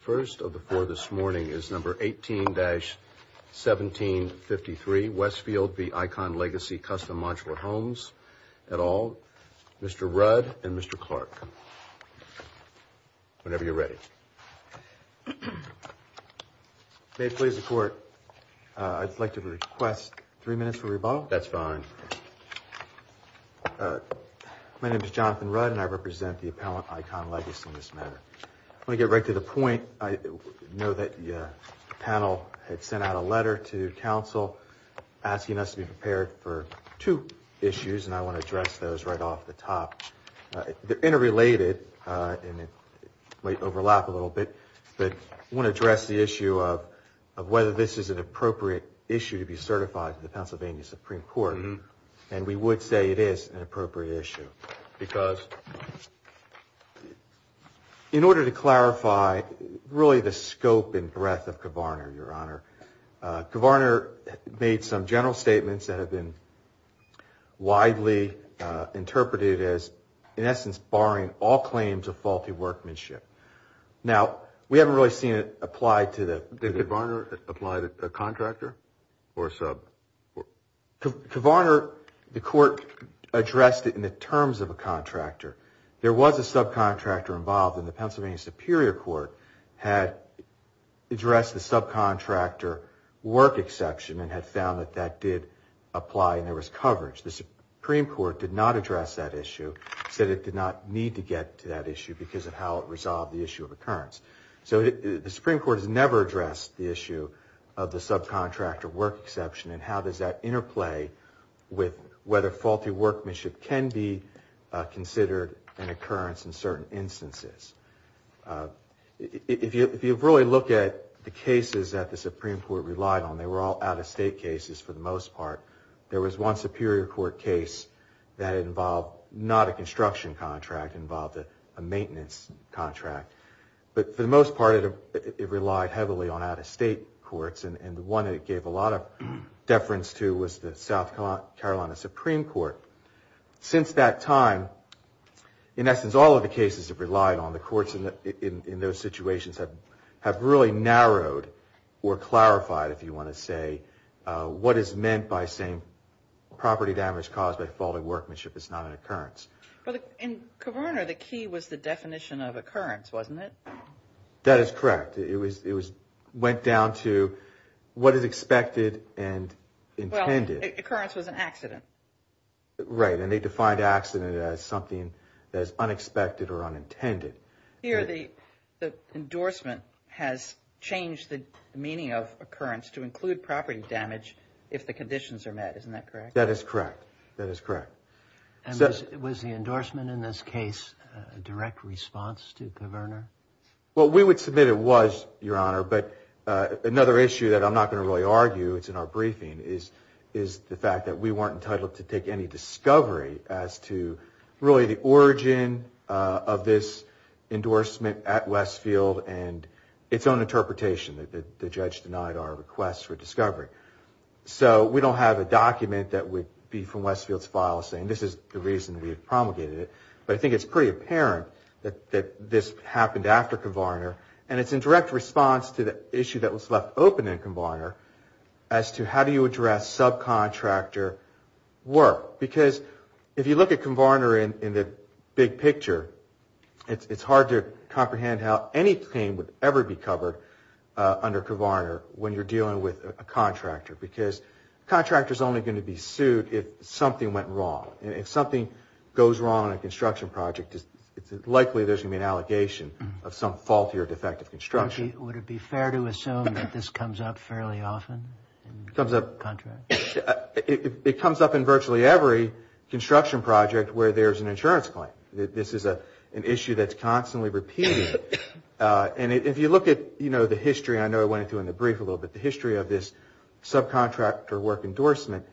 First of the four this morning is number 18-1753, Westfield v. Icon Legacy Custom Modular Homes, et al., Mr. Rudd and Mr. Clark. Whenever you're ready. May it please the Court, I'd like to request three minutes for rebuttal. That's fine. My name is Jonathan Rudd and I represent the appellant, Icon Legacy, in this matter. I want to get right to the point. I know that the panel had sent out a letter to counsel asking us to be prepared for two issues, and I want to address those right off the top. They're interrelated and might overlap a little bit, but I want to address the issue of whether this is an appropriate issue to be certified to the Pennsylvania Supreme Court, and we would say it is an appropriate issue. Because? In order to clarify really the scope and breadth of Kavarner, your Honor, Kavarner made some general statements that have been widely interpreted as, in essence, barring all claims of faulty workmanship. Now, we haven't really seen it applied to the... Did Kavarner apply to a contractor or a sub? Kavarner, the Court addressed it in the terms of a contractor. There was a subcontractor involved, and the Pennsylvania Superior Court had addressed the subcontractor work exception and had found that that did apply and there was coverage. The Supreme Court did not address that issue, said it did not need to get to that issue because of how it resolved the issue of occurrence. So the Supreme Court has never addressed the issue of the subcontractor work exception and how does that interplay with whether faulty workmanship can be considered an occurrence in certain instances. If you really look at the cases that the Supreme Court relied on, they were all out-of-state cases for the most part. There was one Superior Court case that involved not a construction contract, it involved a maintenance contract. But for the most part, it relied heavily on out-of-state courts, and the one it gave a lot of deference to was the South Carolina Supreme Court. Since that time, in essence, all of the cases have relied on the courts in those situations have really narrowed or clarified, if you want to say, what is meant by saying property damage caused by faulty workmanship is not an occurrence. In Kverner, the key was the definition of occurrence, wasn't it? That is correct. It went down to what is expected and intended. Well, occurrence was an accident. Right, and they defined accident as something that is unexpected or unintended. Here, the endorsement has changed the meaning of occurrence to include property damage if the conditions are met. Isn't that correct? That is correct. That is correct. And was the endorsement in this case a direct response to Kverner? Well, we would submit it was, Your Honor. But another issue that I'm not going to really argue, it's in our briefing, is the fact that we weren't entitled to take any discovery as to really the origin of this endorsement at Westfield and its own interpretation that the judge denied our request for discovery. So we don't have a document that would be from Westfield's file saying this is the reason we promulgated it. But I think it's pretty apparent that this happened after Kverner. And it's in direct response to the issue that was left open in Kverner as to how do you address subcontractor work? Because if you look at Kverner in the big picture, it's hard to comprehend how anything would ever be covered under Kverner when you're dealing with a contractor. Because a contractor is only going to be sued if something went wrong. If something goes wrong on a construction project, it's likely there's going to be an allegation of some faulty or defective construction. Would it be fair to assume that this comes up fairly often in contracts? It comes up in virtually every construction project where there's an insurance claim. This is an issue that's constantly repeating. And if you look at, you know, the history, I know I went into it in the brief a little bit, the history of this subcontractor work endorsement,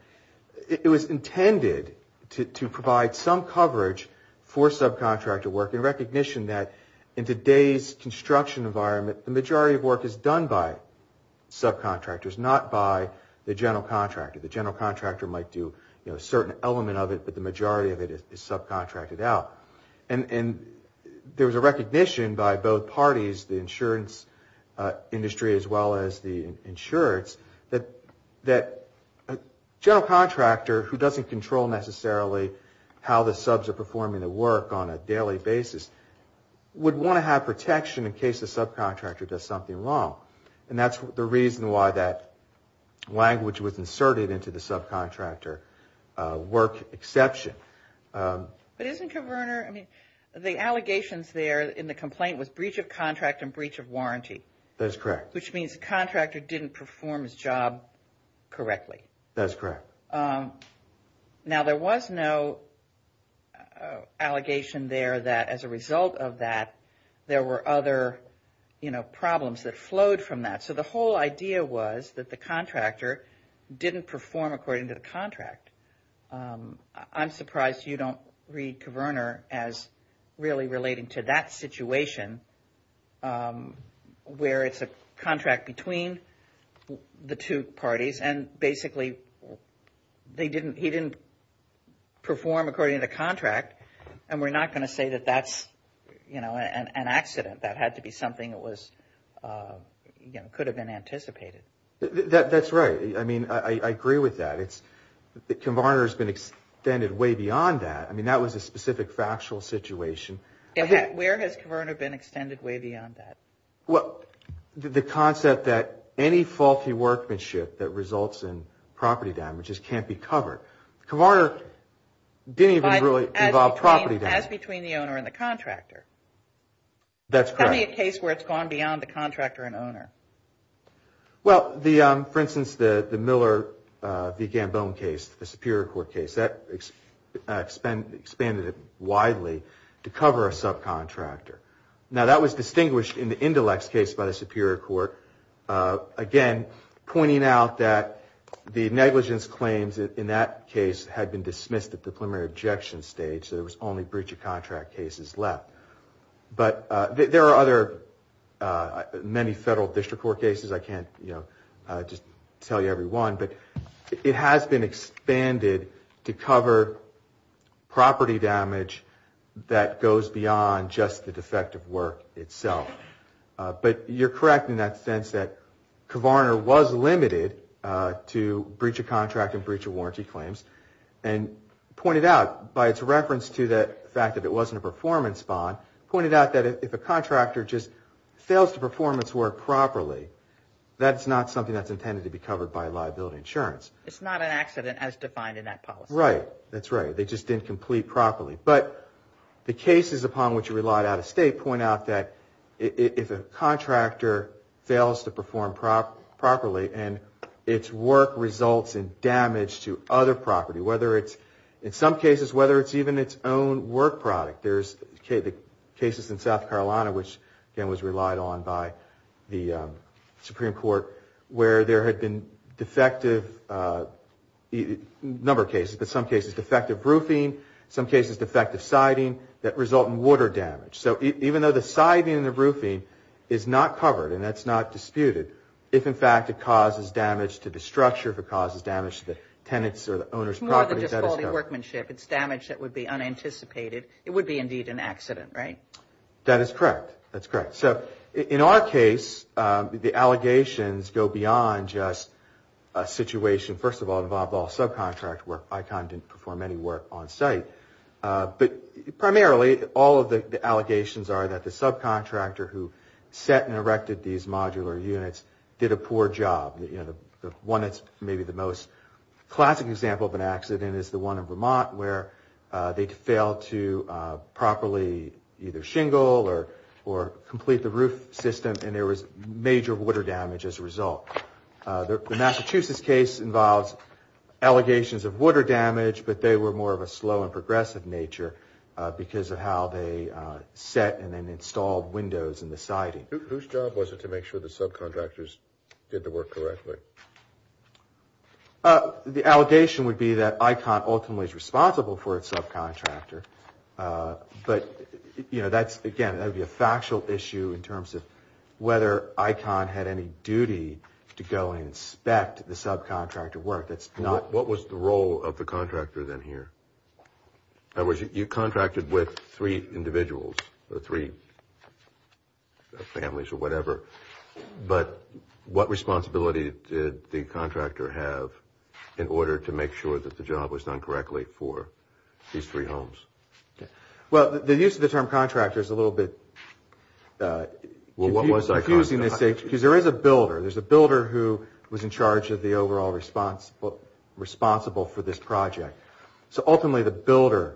it was intended to provide some coverage for subcontractor work in recognition that in today's construction environment, the majority of work is done by subcontractors, not by the general contractor. The general contractor might do a certain element of it, but the majority of it is subcontracted out. And there was a recognition by both parties, the insurance industry as well as the insurance, that a general contractor who doesn't control necessarily how the subs are performing the work on a daily basis would want to have protection in case the subcontractor does something wrong. And that's the reason why that language was inserted into the subcontractor work exception. But isn't Covernor, I mean, the allegations there in the complaint was breach of contract and breach of warranty. That's correct. Which means the contractor didn't perform his job correctly. That's correct. Now, there was no allegation there that as a result of that, there were other problems that flowed from that. So the whole idea was that the contractor didn't perform according to the contract. I'm surprised you don't read Covernor as really relating to that situation where it's a contract between the two parties. And basically, they didn't, he didn't perform according to the contract. And we're not going to say that that's, you know, an accident. That had to be something that was, you know, could have been anticipated. That's right. I mean, I agree with that. It's, Covernor has been extended way beyond that. I mean, that was a specific factual situation. Where has Covernor been extended way beyond that? Well, the concept that any faulty workmanship that results in property damage just can't be covered. Covernor didn't even really involve property damage. As between the owner and the contractor. That's correct. It can't be a case where it's gone beyond the contractor and owner. Well, the, for instance, the Miller v. Gambone case, the Superior Court case, that expanded widely to cover a subcontractor. Now, that was distinguished in the Indelex case by the Superior Court. Again, pointing out that the negligence claims in that case had been dismissed at the preliminary objection stage. So there was only breach of contract cases left. But there are other many federal district court cases. I can't, you know, just tell you every one. But it has been expanded to cover property damage that goes beyond just the defective work itself. But you're correct in that sense that Covernor was limited to breach of contract and breach of warranty claims. And pointed out by its reference to the fact that it wasn't a performance bond. Pointed out that if a contractor just fails to perform its work properly, that's not something that's intended to be covered by liability insurance. It's not an accident as defined in that policy. Right. That's right. They just didn't complete properly. But the cases upon which it relied out of state point out that if a contractor fails to perform properly and its work results in damage to other property, whether it's, in some cases, whether it's even its own work product. There's cases in South Carolina, which again was relied on by the Supreme Court, where there had been defective, a number of cases, but some cases defective roofing, some cases defective siding that result in water damage. So even though the siding and the roofing is not covered and that's not disputed, if in fact it causes damage to the structure, if it causes damage to the tenants or the owner's property, that is covered. It's more than just faulty workmanship. It's damage that would be unanticipated. It would be indeed an accident. Right. That is correct. That's correct. So in our case, the allegations go beyond just a situation, first of all, involved all subcontract work. I kind of didn't perform any work on site, but primarily all of the allegations are that the subcontractor who set and erected these modular units did a poor job. You know, the one that's maybe the most classic example of an accident is the one in Vermont where they failed to properly either shingle or complete the roof system and there was major water damage as a result. The Massachusetts case involves allegations of water damage, but they were more of a slow and progressive nature because of how they set and installed windows in the siding. Whose job was it to make sure the subcontractors did the work correctly? The allegation would be that ICON ultimately is responsible for its subcontractor. But, you know, that's again, that would be a factual issue in terms of whether ICON had any duty to go and inspect the subcontractor work. That's not. What was the role of the contractor then here? In other words, you contracted with three individuals or three families or whatever, but what responsibility did the contractor have in order to make sure that the job was done correctly for these three homes? Well, the use of the term contractor is a little bit confusing. Because there is a builder. There's a builder who was in charge of the overall responsible for this project. So ultimately the builder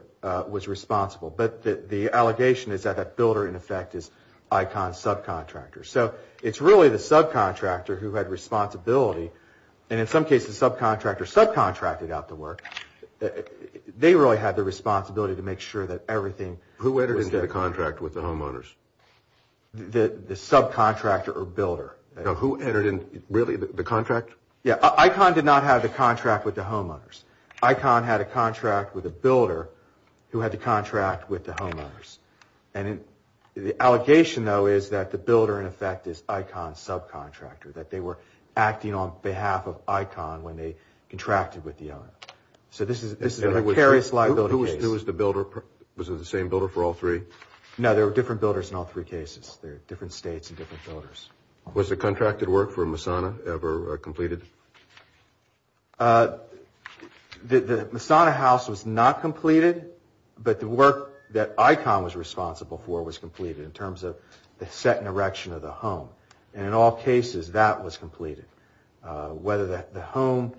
was responsible. But the allegation is that that builder in effect is ICON's subcontractor. So it's really the subcontractor who had responsibility and in some cases subcontractor subcontracted out the work. They really had the responsibility to make sure that everything. Who entered into the contract with the homeowners? The subcontractor or builder? Who entered in really the contract? Yeah, ICON did not have the contract with the homeowners. ICON had a contract with a builder who had to contract with the homeowners. And the allegation though is that the builder in effect is ICON's subcontractor. That they were acting on behalf of ICON when they contracted with the owner. So this is a precarious liability case. Who was the builder? Was it the same builder for all three? No, there were different builders in all three cases. They're different states and different builders. Was the contracted work for Masana ever completed? The Masana house was not completed. But the work that ICON was responsible for was completed in terms of the set and erection of the home. And in all cases that was completed. Whether the home,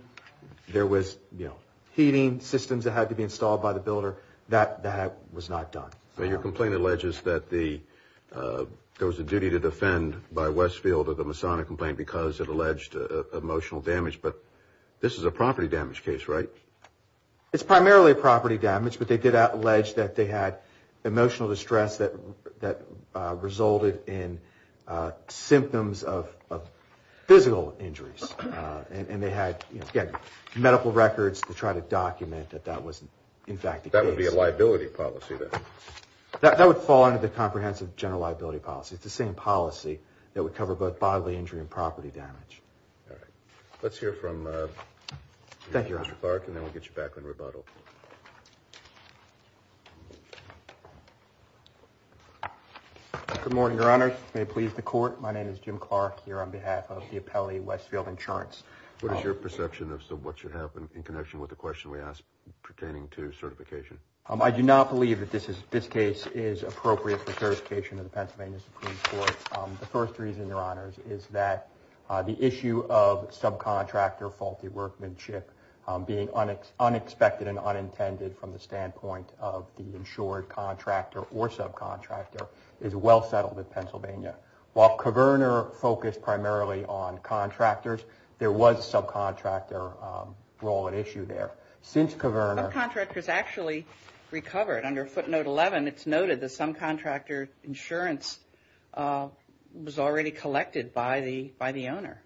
there was heating systems that had to be installed by the builder, that was not done. So your complaint alleges that there was a duty to defend by Westfield of the Masana complaint because it alleged emotional damage. But this is a property damage case, right? It's primarily property damage. But they did allege that they had emotional distress that resulted in symptoms of physical injuries. And they had medical records to try to document that that was in fact the case. That would be a liability policy then? That would fall under the comprehensive general liability policy. It's the same policy that would cover both bodily injury and property damage. All right, let's hear from Mr. Clark and then we'll get you back on rebuttal. Good morning, your honor. May it please the court. My name is Jim Clark here on behalf of the Appellee Westfield Insurance. What is your perception of what should happen in connection with the question we asked pertaining to certification? I do not believe that this case is appropriate for certification of the Pennsylvania Supreme Court. The first reason, your honors, is that the issue of subcontractor faulty workmanship being unexpected and unintended from the standpoint of the insured contractor or subcontractor is well settled in Pennsylvania. While Coverner focused primarily on contractors, there was a subcontractor role at issue there. Subcontractors actually recovered. Under footnote 11, it's noted that some contractor insurance was already collected by the owner.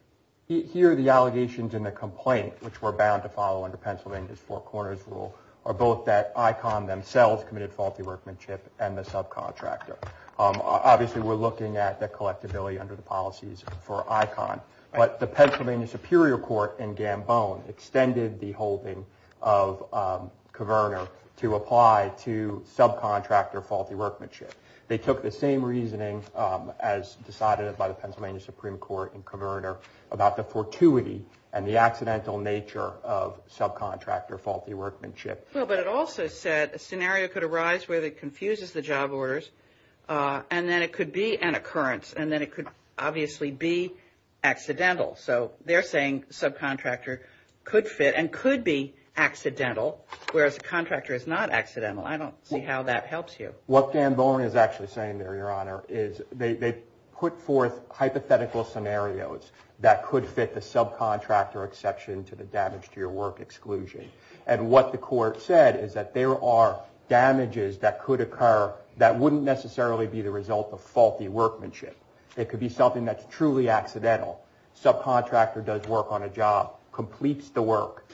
Here, the allegations in the complaint, which we're bound to follow under Pennsylvania's Four Corners rule, are both that ICON themselves committed faulty workmanship and the subcontractor. Obviously, we're looking at the collectability under the policies for ICON. But the Pennsylvania Superior Court in Gambone extended the holding of Coverner to apply to subcontractor faulty workmanship. They took the same reasoning as decided by the Pennsylvania Supreme Court in Coverner about the fortuity and the accidental nature of subcontractor faulty workmanship. Well, but it also said a scenario could arise where it confuses the job orders, and then it could be an occurrence, and then it could obviously be accidental. So they're saying subcontractor could fit and could be accidental, whereas a contractor is not accidental. I don't see how that helps you. What Gambone is actually saying there, your honor, is they put forth hypothetical scenarios that could fit the subcontractor exception to the damage to your work exclusion. And what the court said is that there are damages that could occur that wouldn't necessarily be the result of faulty workmanship. It could be something that's truly accidental. Subcontractor does work on a job, completes the work,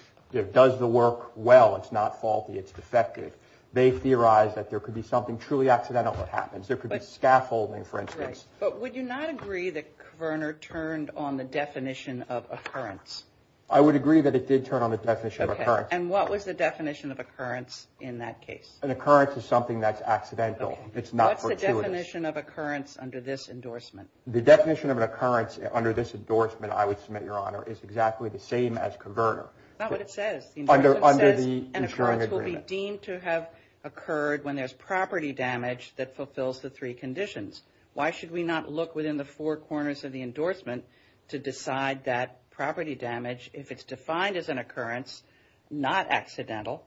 does the work well. It's not faulty. It's defective. They theorize that there could be something truly accidental that happens. There could be scaffolding, for instance. But would you not agree that Coverner turned on the definition of occurrence? I would agree that it did turn on the definition of occurrence. And what was the definition of occurrence in that case? An occurrence is something that's accidental. It's not fortuitous. What's the definition of occurrence under this endorsement? The definition of an occurrence under this endorsement, I would submit, your honor, is exactly the same as Coverner. Not what it says. The endorsement says an occurrence will be deemed to have occurred when there's property damage that fulfills the three conditions. Why should we not look within the four corners of the endorsement to decide that property damage, if it's defined as an occurrence, not accidental,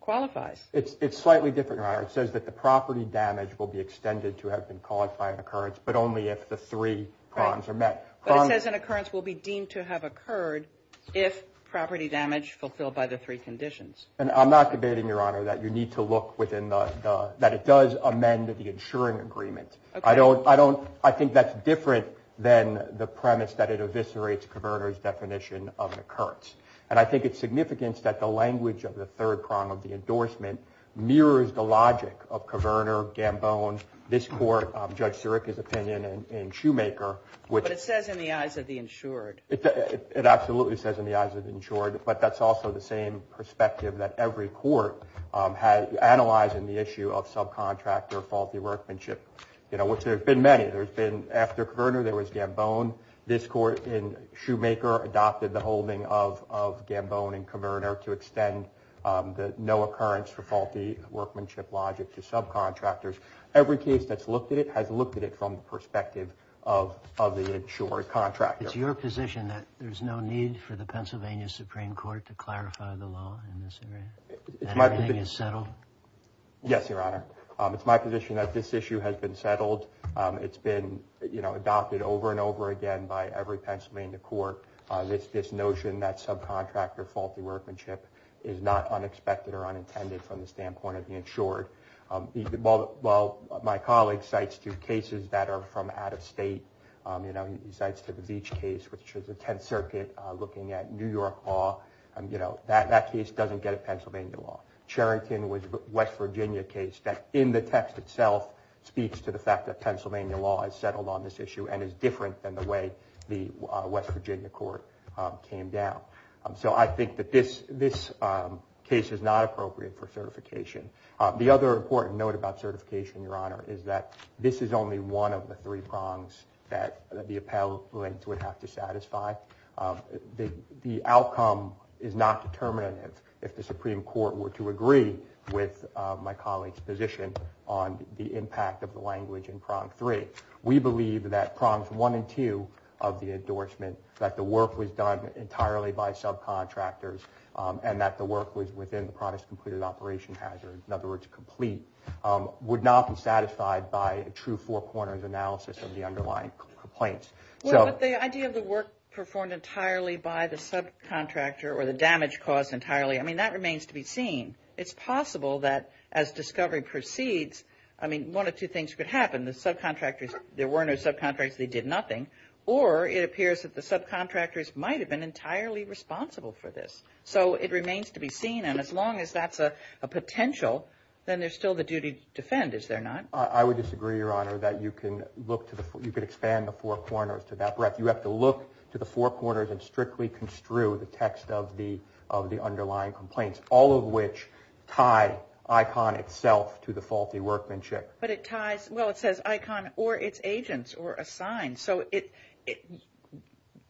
qualifies? It's slightly different, your honor. It says that the property damage will be extended to have been called by an occurrence, but only if the three prongs are met. But it says an occurrence will be deemed to have occurred if property damage fulfilled by the three conditions. And I'm not debating, your honor, that you need to look within the, that it does amend the insuring agreement. I don't, I don't, I think that's different than the premise that it eviscerates Coverner's definition of an occurrence. And I think it's significant that the language of the third prong of the endorsement mirrors the logic of Coverner, Gambone, this court, Judge Sirica's opinion, and Shoemaker. But it says in the eyes of the insured. It absolutely says in the eyes of the insured. But that's also the same perspective that every court has, analyzing the issue of subcontractor faulty workmanship, you know, which there have been many. There's been, after Coverner, there was Gambone. This court in Shoemaker adopted the holding of, of Gambone and Coverner to extend the no occurrence for faulty workmanship logic to subcontractors. Every case that's looked at it has looked at it from the perspective of, of the insured contractor. It's your position that there's no need for the Pennsylvania Supreme Court to clarify the law in this area, that everything is settled? Yes, Your Honor. It's my position that this issue has been settled. It's been, you know, adopted over and over again by every Pennsylvania court. This, this notion that subcontractor faulty workmanship is not unexpected or unintended from the standpoint of the insured. While, while my colleague cites two cases that are from out of state, you know, he cites to the Beach case, which was the 10th Circuit looking at New York law. And, you know, that, that case doesn't get a Pennsylvania law. Charrington was a West Virginia case that in the text itself speaks to the fact that Pennsylvania law is settled on this issue and is different than the way the West Virginia court came down. So I think that this, this case is not appropriate for certification. The other important note about certification, Your Honor, is that this is only one of the three prongs that the appellate would have to satisfy. The, the outcome is not determinative. If the Supreme Court were to agree with my colleague's position on the impact of the language in prong three, we believe that prongs one and two of the endorsement, that the work was done entirely by subcontractors. And that the work was within the promised completed operation hazard, in other words, complete, would not be satisfied by a true four corners analysis of the underlying complaints. Well, but the idea of the work performed entirely by the subcontractor or the damage caused entirely, I mean, that remains to be seen. It's possible that as discovery proceeds, I mean, one of two things could happen. The subcontractors, there were no subcontractors, they did nothing. Or it appears that the subcontractors might have been entirely responsible for this. So it remains to be seen. And as long as that's a potential, then there's still the duty to defend, is there not? I would disagree, Your Honor, that you can look to the, you could expand the four corners to that breadth. You have to look to the four corners and strictly construe the text of the, of the underlying complaints, all of which tie ICON itself to the faulty workmanship. But it ties, well, it says ICON or its agents or assigned. So it,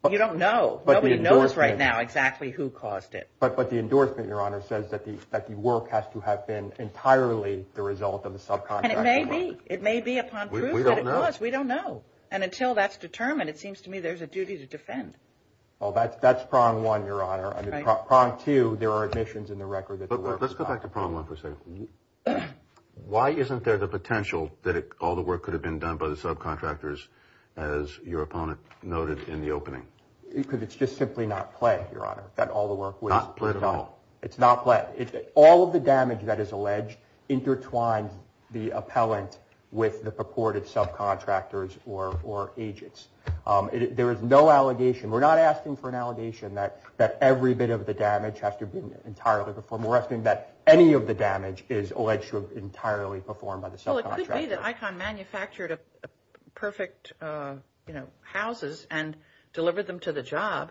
you don't know. Nobody knows right now exactly who caused it. But, but the endorsement, Your Honor, says that the, that the work has to have been entirely the result of the subcontractor. And it may be, it may be upon proof that it was. We don't know. And until that's determined, it seems to me there's a duty to defend. Well, that's, that's prong one, Your Honor. I mean, prong two, there are omissions in the record. But let's go back to prong one for a second. Why isn't there the potential that all the work could have been done by the subcontractors, as your opponent noted in the opening? Because it's just simply not play, Your Honor, that all the work was done. Not play at all. It's not play. All of the damage that is alleged intertwines the appellant with the purported subcontractors or, or agents. There is no allegation. We're not asking for an allegation that, that every bit of the damage has to be entirely performed. We're asking that any of the damage is alleged to have entirely performed by the subcontractor. Well, it could be that ICON manufactured a perfect, you know, houses and delivered them to the job.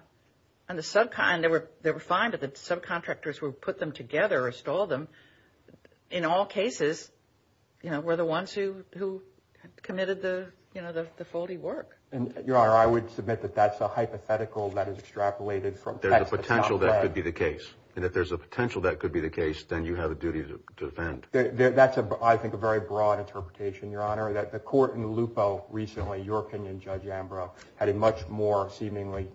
And the subcontractors, they were fine, but the subcontractors who put them together or installed them, in all cases, you know, were the ones who, who committed the, you know, the, the faulty work. And, Your Honor, I would submit that that's a hypothetical that is extrapolated from. There's a potential that could be the case. And if there's a potential that could be the case, then you have a duty to defend. That's a, I think, a very broad interpretation, Your Honor, that the court in Lupo recently, your opinion, Judge Ambrose, had a much more seemingly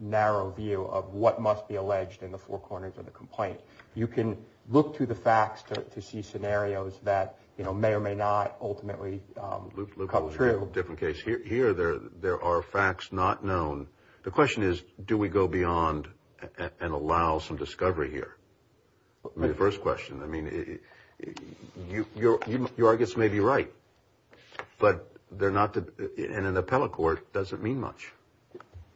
narrow view of what must be alleged in the four corners of the complaint. You can look to the facts to see scenarios that, you know, may or may not ultimately come true. Different case. Here, there, there are facts not known. The question is, do we go beyond and allow some discovery here? The first question, I mean, you, you, you, you, I guess, may be right, but they're not, and in the appellate court, doesn't mean much.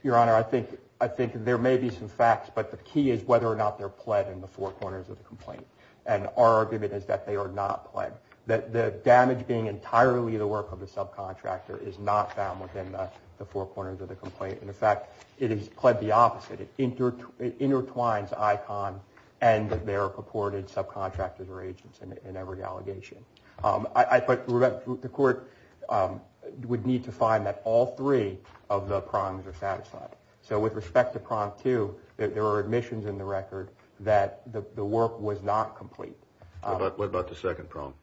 Your Honor, I think, I think there may be some facts, but the key is whether or not they're pled in the four corners of the complaint. And our argument is that they are not pled. That the damage being entirely the work of the subcontractor is not found within the four corners of the complaint. In fact, it is pled the opposite. It intertwines ICON and their purported subcontractors or agents in every allegation. I, but the court would need to find that all three of the prongs are satisfied. So with respect to prong two, there are admissions in the record that the work was not complete. What about the second prong?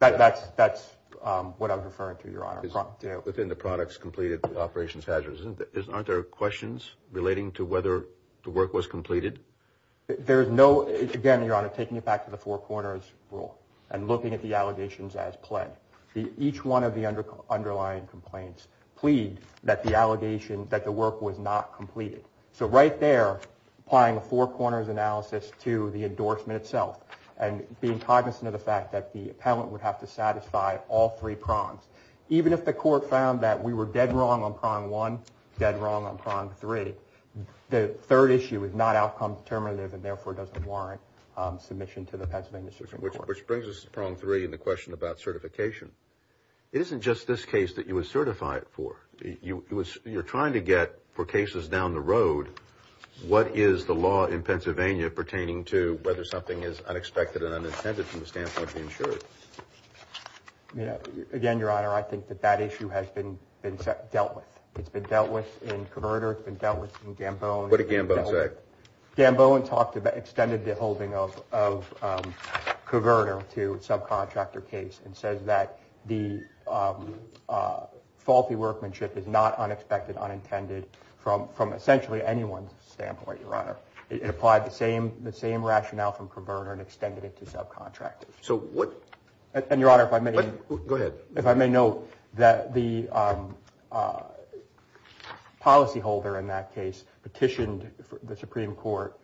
That's, that's what I'm referring to, Your Honor. Within the products completed with operations hazards, aren't there questions relating to whether the work was completed? There is no, again, Your Honor, taking it back to the four corners rule and looking at the allegations as pled. Each one of the underlying complaints plead that the allegation, that the work was not completed. So right there, applying a four corners analysis to the endorsement itself and being cognizant of the fact that the appellant would have to satisfy all three prongs. Even if the court found that we were dead wrong on prong one, dead wrong on prong three, the third issue is not outcome determinative and therefore doesn't warrant submission to the Pennsylvania Supreme Court. Which brings us to prong three and the question about certification. It isn't just this case that you would certify it for. You, it was, you're trying to get for cases down the road, what is the law in Pennsylvania pertaining to whether something is unexpected and unintended from the standpoint of the insurer? You know, again, Your Honor, I think that that issue has been dealt with. It's been dealt with in Covertor, it's been dealt with in Gamboan. What did Gamboan say? Gamboan talked about, extended the holding of Covertor to subcontractor case and says that the faulty workmanship is not unexpected, unintended from essentially anyone's standpoint, Your Honor. It applied the same rationale from Covertor and extended it to subcontractors. So what, and Your Honor, if I may, go ahead, if I may note that the policyholder in that case petitioned the Supreme Court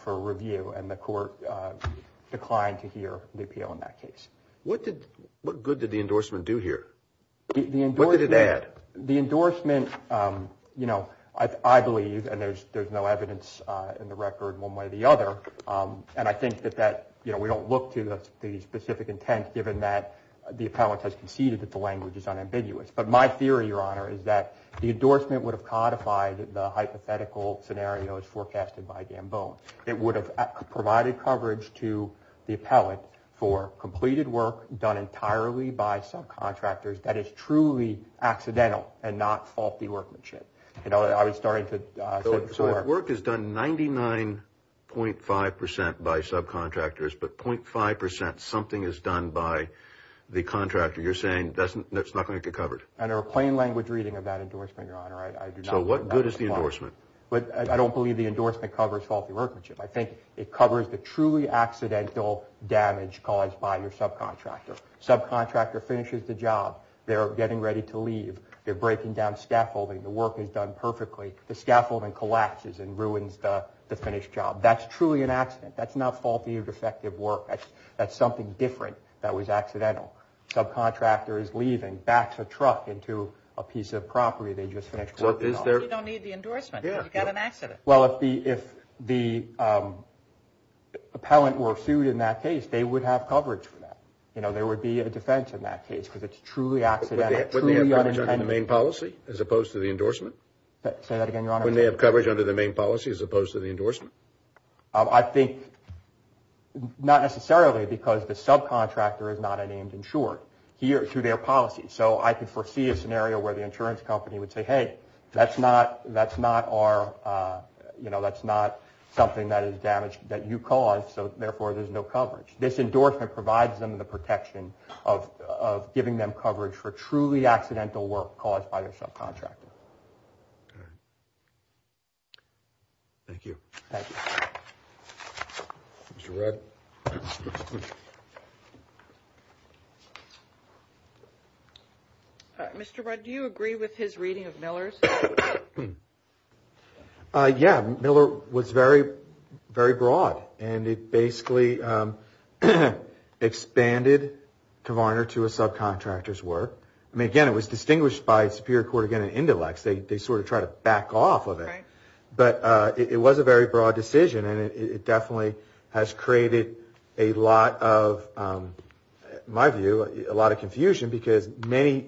for review and the court declined to hear the appeal in that case. What did, what good did the endorsement do here? The endorsement, you know, I believe, and there's no evidence in the record one way or the other, and I think that that, you know, we don't look to the specific intent given that the appellate has conceded that the language is unambiguous. But my theory, Your Honor, is that the endorsement would have codified the hypothetical scenario as forecasted by Gamboan. It would have provided coverage to the appellate for completed work done entirely by subcontractors that is truly accidental and not faulty workmanship. You know, I was starting to say before. Work is done 99.5% by subcontractors, but 0.5% something is done by the contractor. You're saying that's not going to get covered? Under a plain language reading of that endorsement, Your Honor, I do not. So what good is the endorsement? But I don't believe the endorsement covers faulty workmanship. I think it covers the truly accidental damage caused by your subcontractor. Subcontractor finishes the job. They're getting ready to leave. They're breaking down scaffolding. The work is done perfectly. The scaffolding collapses and ruins the finished job. That's truly an accident. That's not faulty or defective work. That's something different that was accidental. Subcontractor is leaving, backs a truck into a piece of property they just finished. So you don't need the endorsement. You've got an accident. Well, if the appellant were sued in that case, they would have coverage for that. You know, there would be a defense in that case because it's truly accidental. But wouldn't they have coverage under the main policy as opposed to the endorsement? Say that again, Your Honor. Wouldn't they have coverage under the main policy as opposed to the endorsement? I think not necessarily because the subcontractor is not a named insured here through their policy. So I can foresee a scenario where the insurance company would say, hey, that's not our, you know, that's not something that is damaged that you caused. So therefore, there's no coverage. This endorsement provides them the protection of giving them coverage for truly accidental work caused by their subcontractor. All right. Thank you. Thank you. Mr. Rudd. Mr. Rudd, do you agree with his reading of Miller's? Yeah, Miller was very, very broad. And it basically expanded Kovarner to a subcontractor's work. I mean, again, it was distinguished by Superior Court, again, an indelex. They sort of try to back off of it. Right. But it was a very broad decision. And it definitely has created a lot of, my view, a lot of confusion because many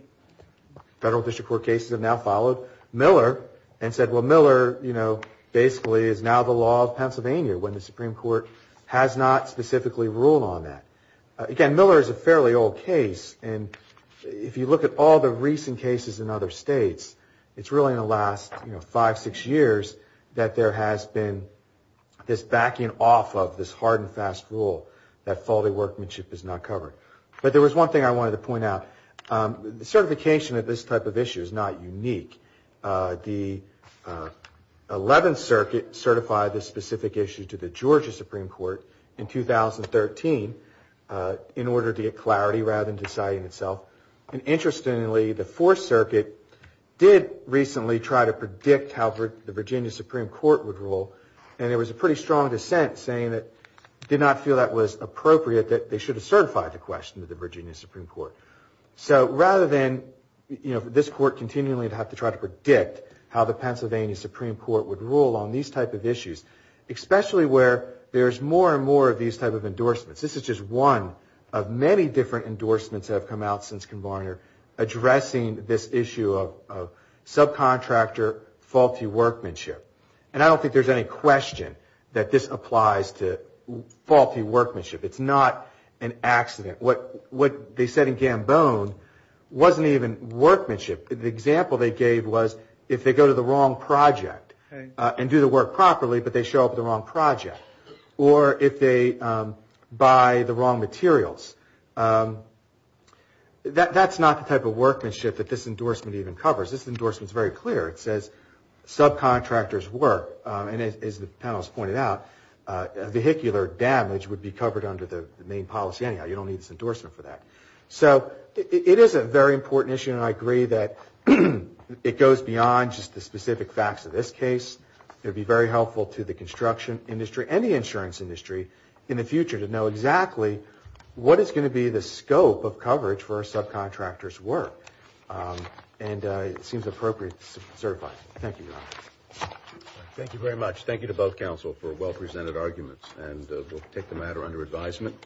federal district court cases have now followed Miller and said, well, Miller, you know, basically is now the law of Pennsylvania when the Supreme Court has not specifically ruled on that. Again, Miller is a fairly old case. And if you look at all the recent cases in other states, it's really in the last, you know, five, six years that there has been this backing off of this hard and fast rule that faulty workmanship is not covered. But there was one thing I wanted to point out. The certification of this type of issue is not unique. The 11th Circuit certified this specific issue to the Georgia Supreme Court in 2013 in order to get clarity rather than deciding itself. And interestingly, the Fourth Circuit did recently try to predict how the Virginia Supreme Court would rule. And there was a pretty strong dissent saying that did not feel that was appropriate, that they should have certified the question to the Virginia Supreme Court. So rather than, you know, this court continually have to try to predict how the Pennsylvania Supreme Court would rule on these type of issues, especially where there's more and more of these type of endorsements. This is just one of many different endorsements have come out since Converter addressing this issue of subcontractor faulty workmanship. And I don't think there's any question that this applies to faulty workmanship. It's not an accident. What they said in Gambone wasn't even workmanship. The example they gave was if they go to the wrong project and do the work properly, but they show up at the wrong project or if they buy the wrong materials. That's not the type of workmanship that this endorsement even covers. This endorsement is very clear. It says subcontractors work and as the panel has pointed out, vehicular damage would be covered under the main policy. Anyhow, you don't need this endorsement for that. So it is a very important issue and I agree that it goes beyond just the specific facts of this case. It would be very helpful to the construction industry and the insurance industry in the future to know exactly what is going to be the scope of coverage for a subcontractor's work. And it seems appropriate to certify. Thank you. Thank you very much. Thank you to both counsel for well presented arguments and we'll take the matter under advisement.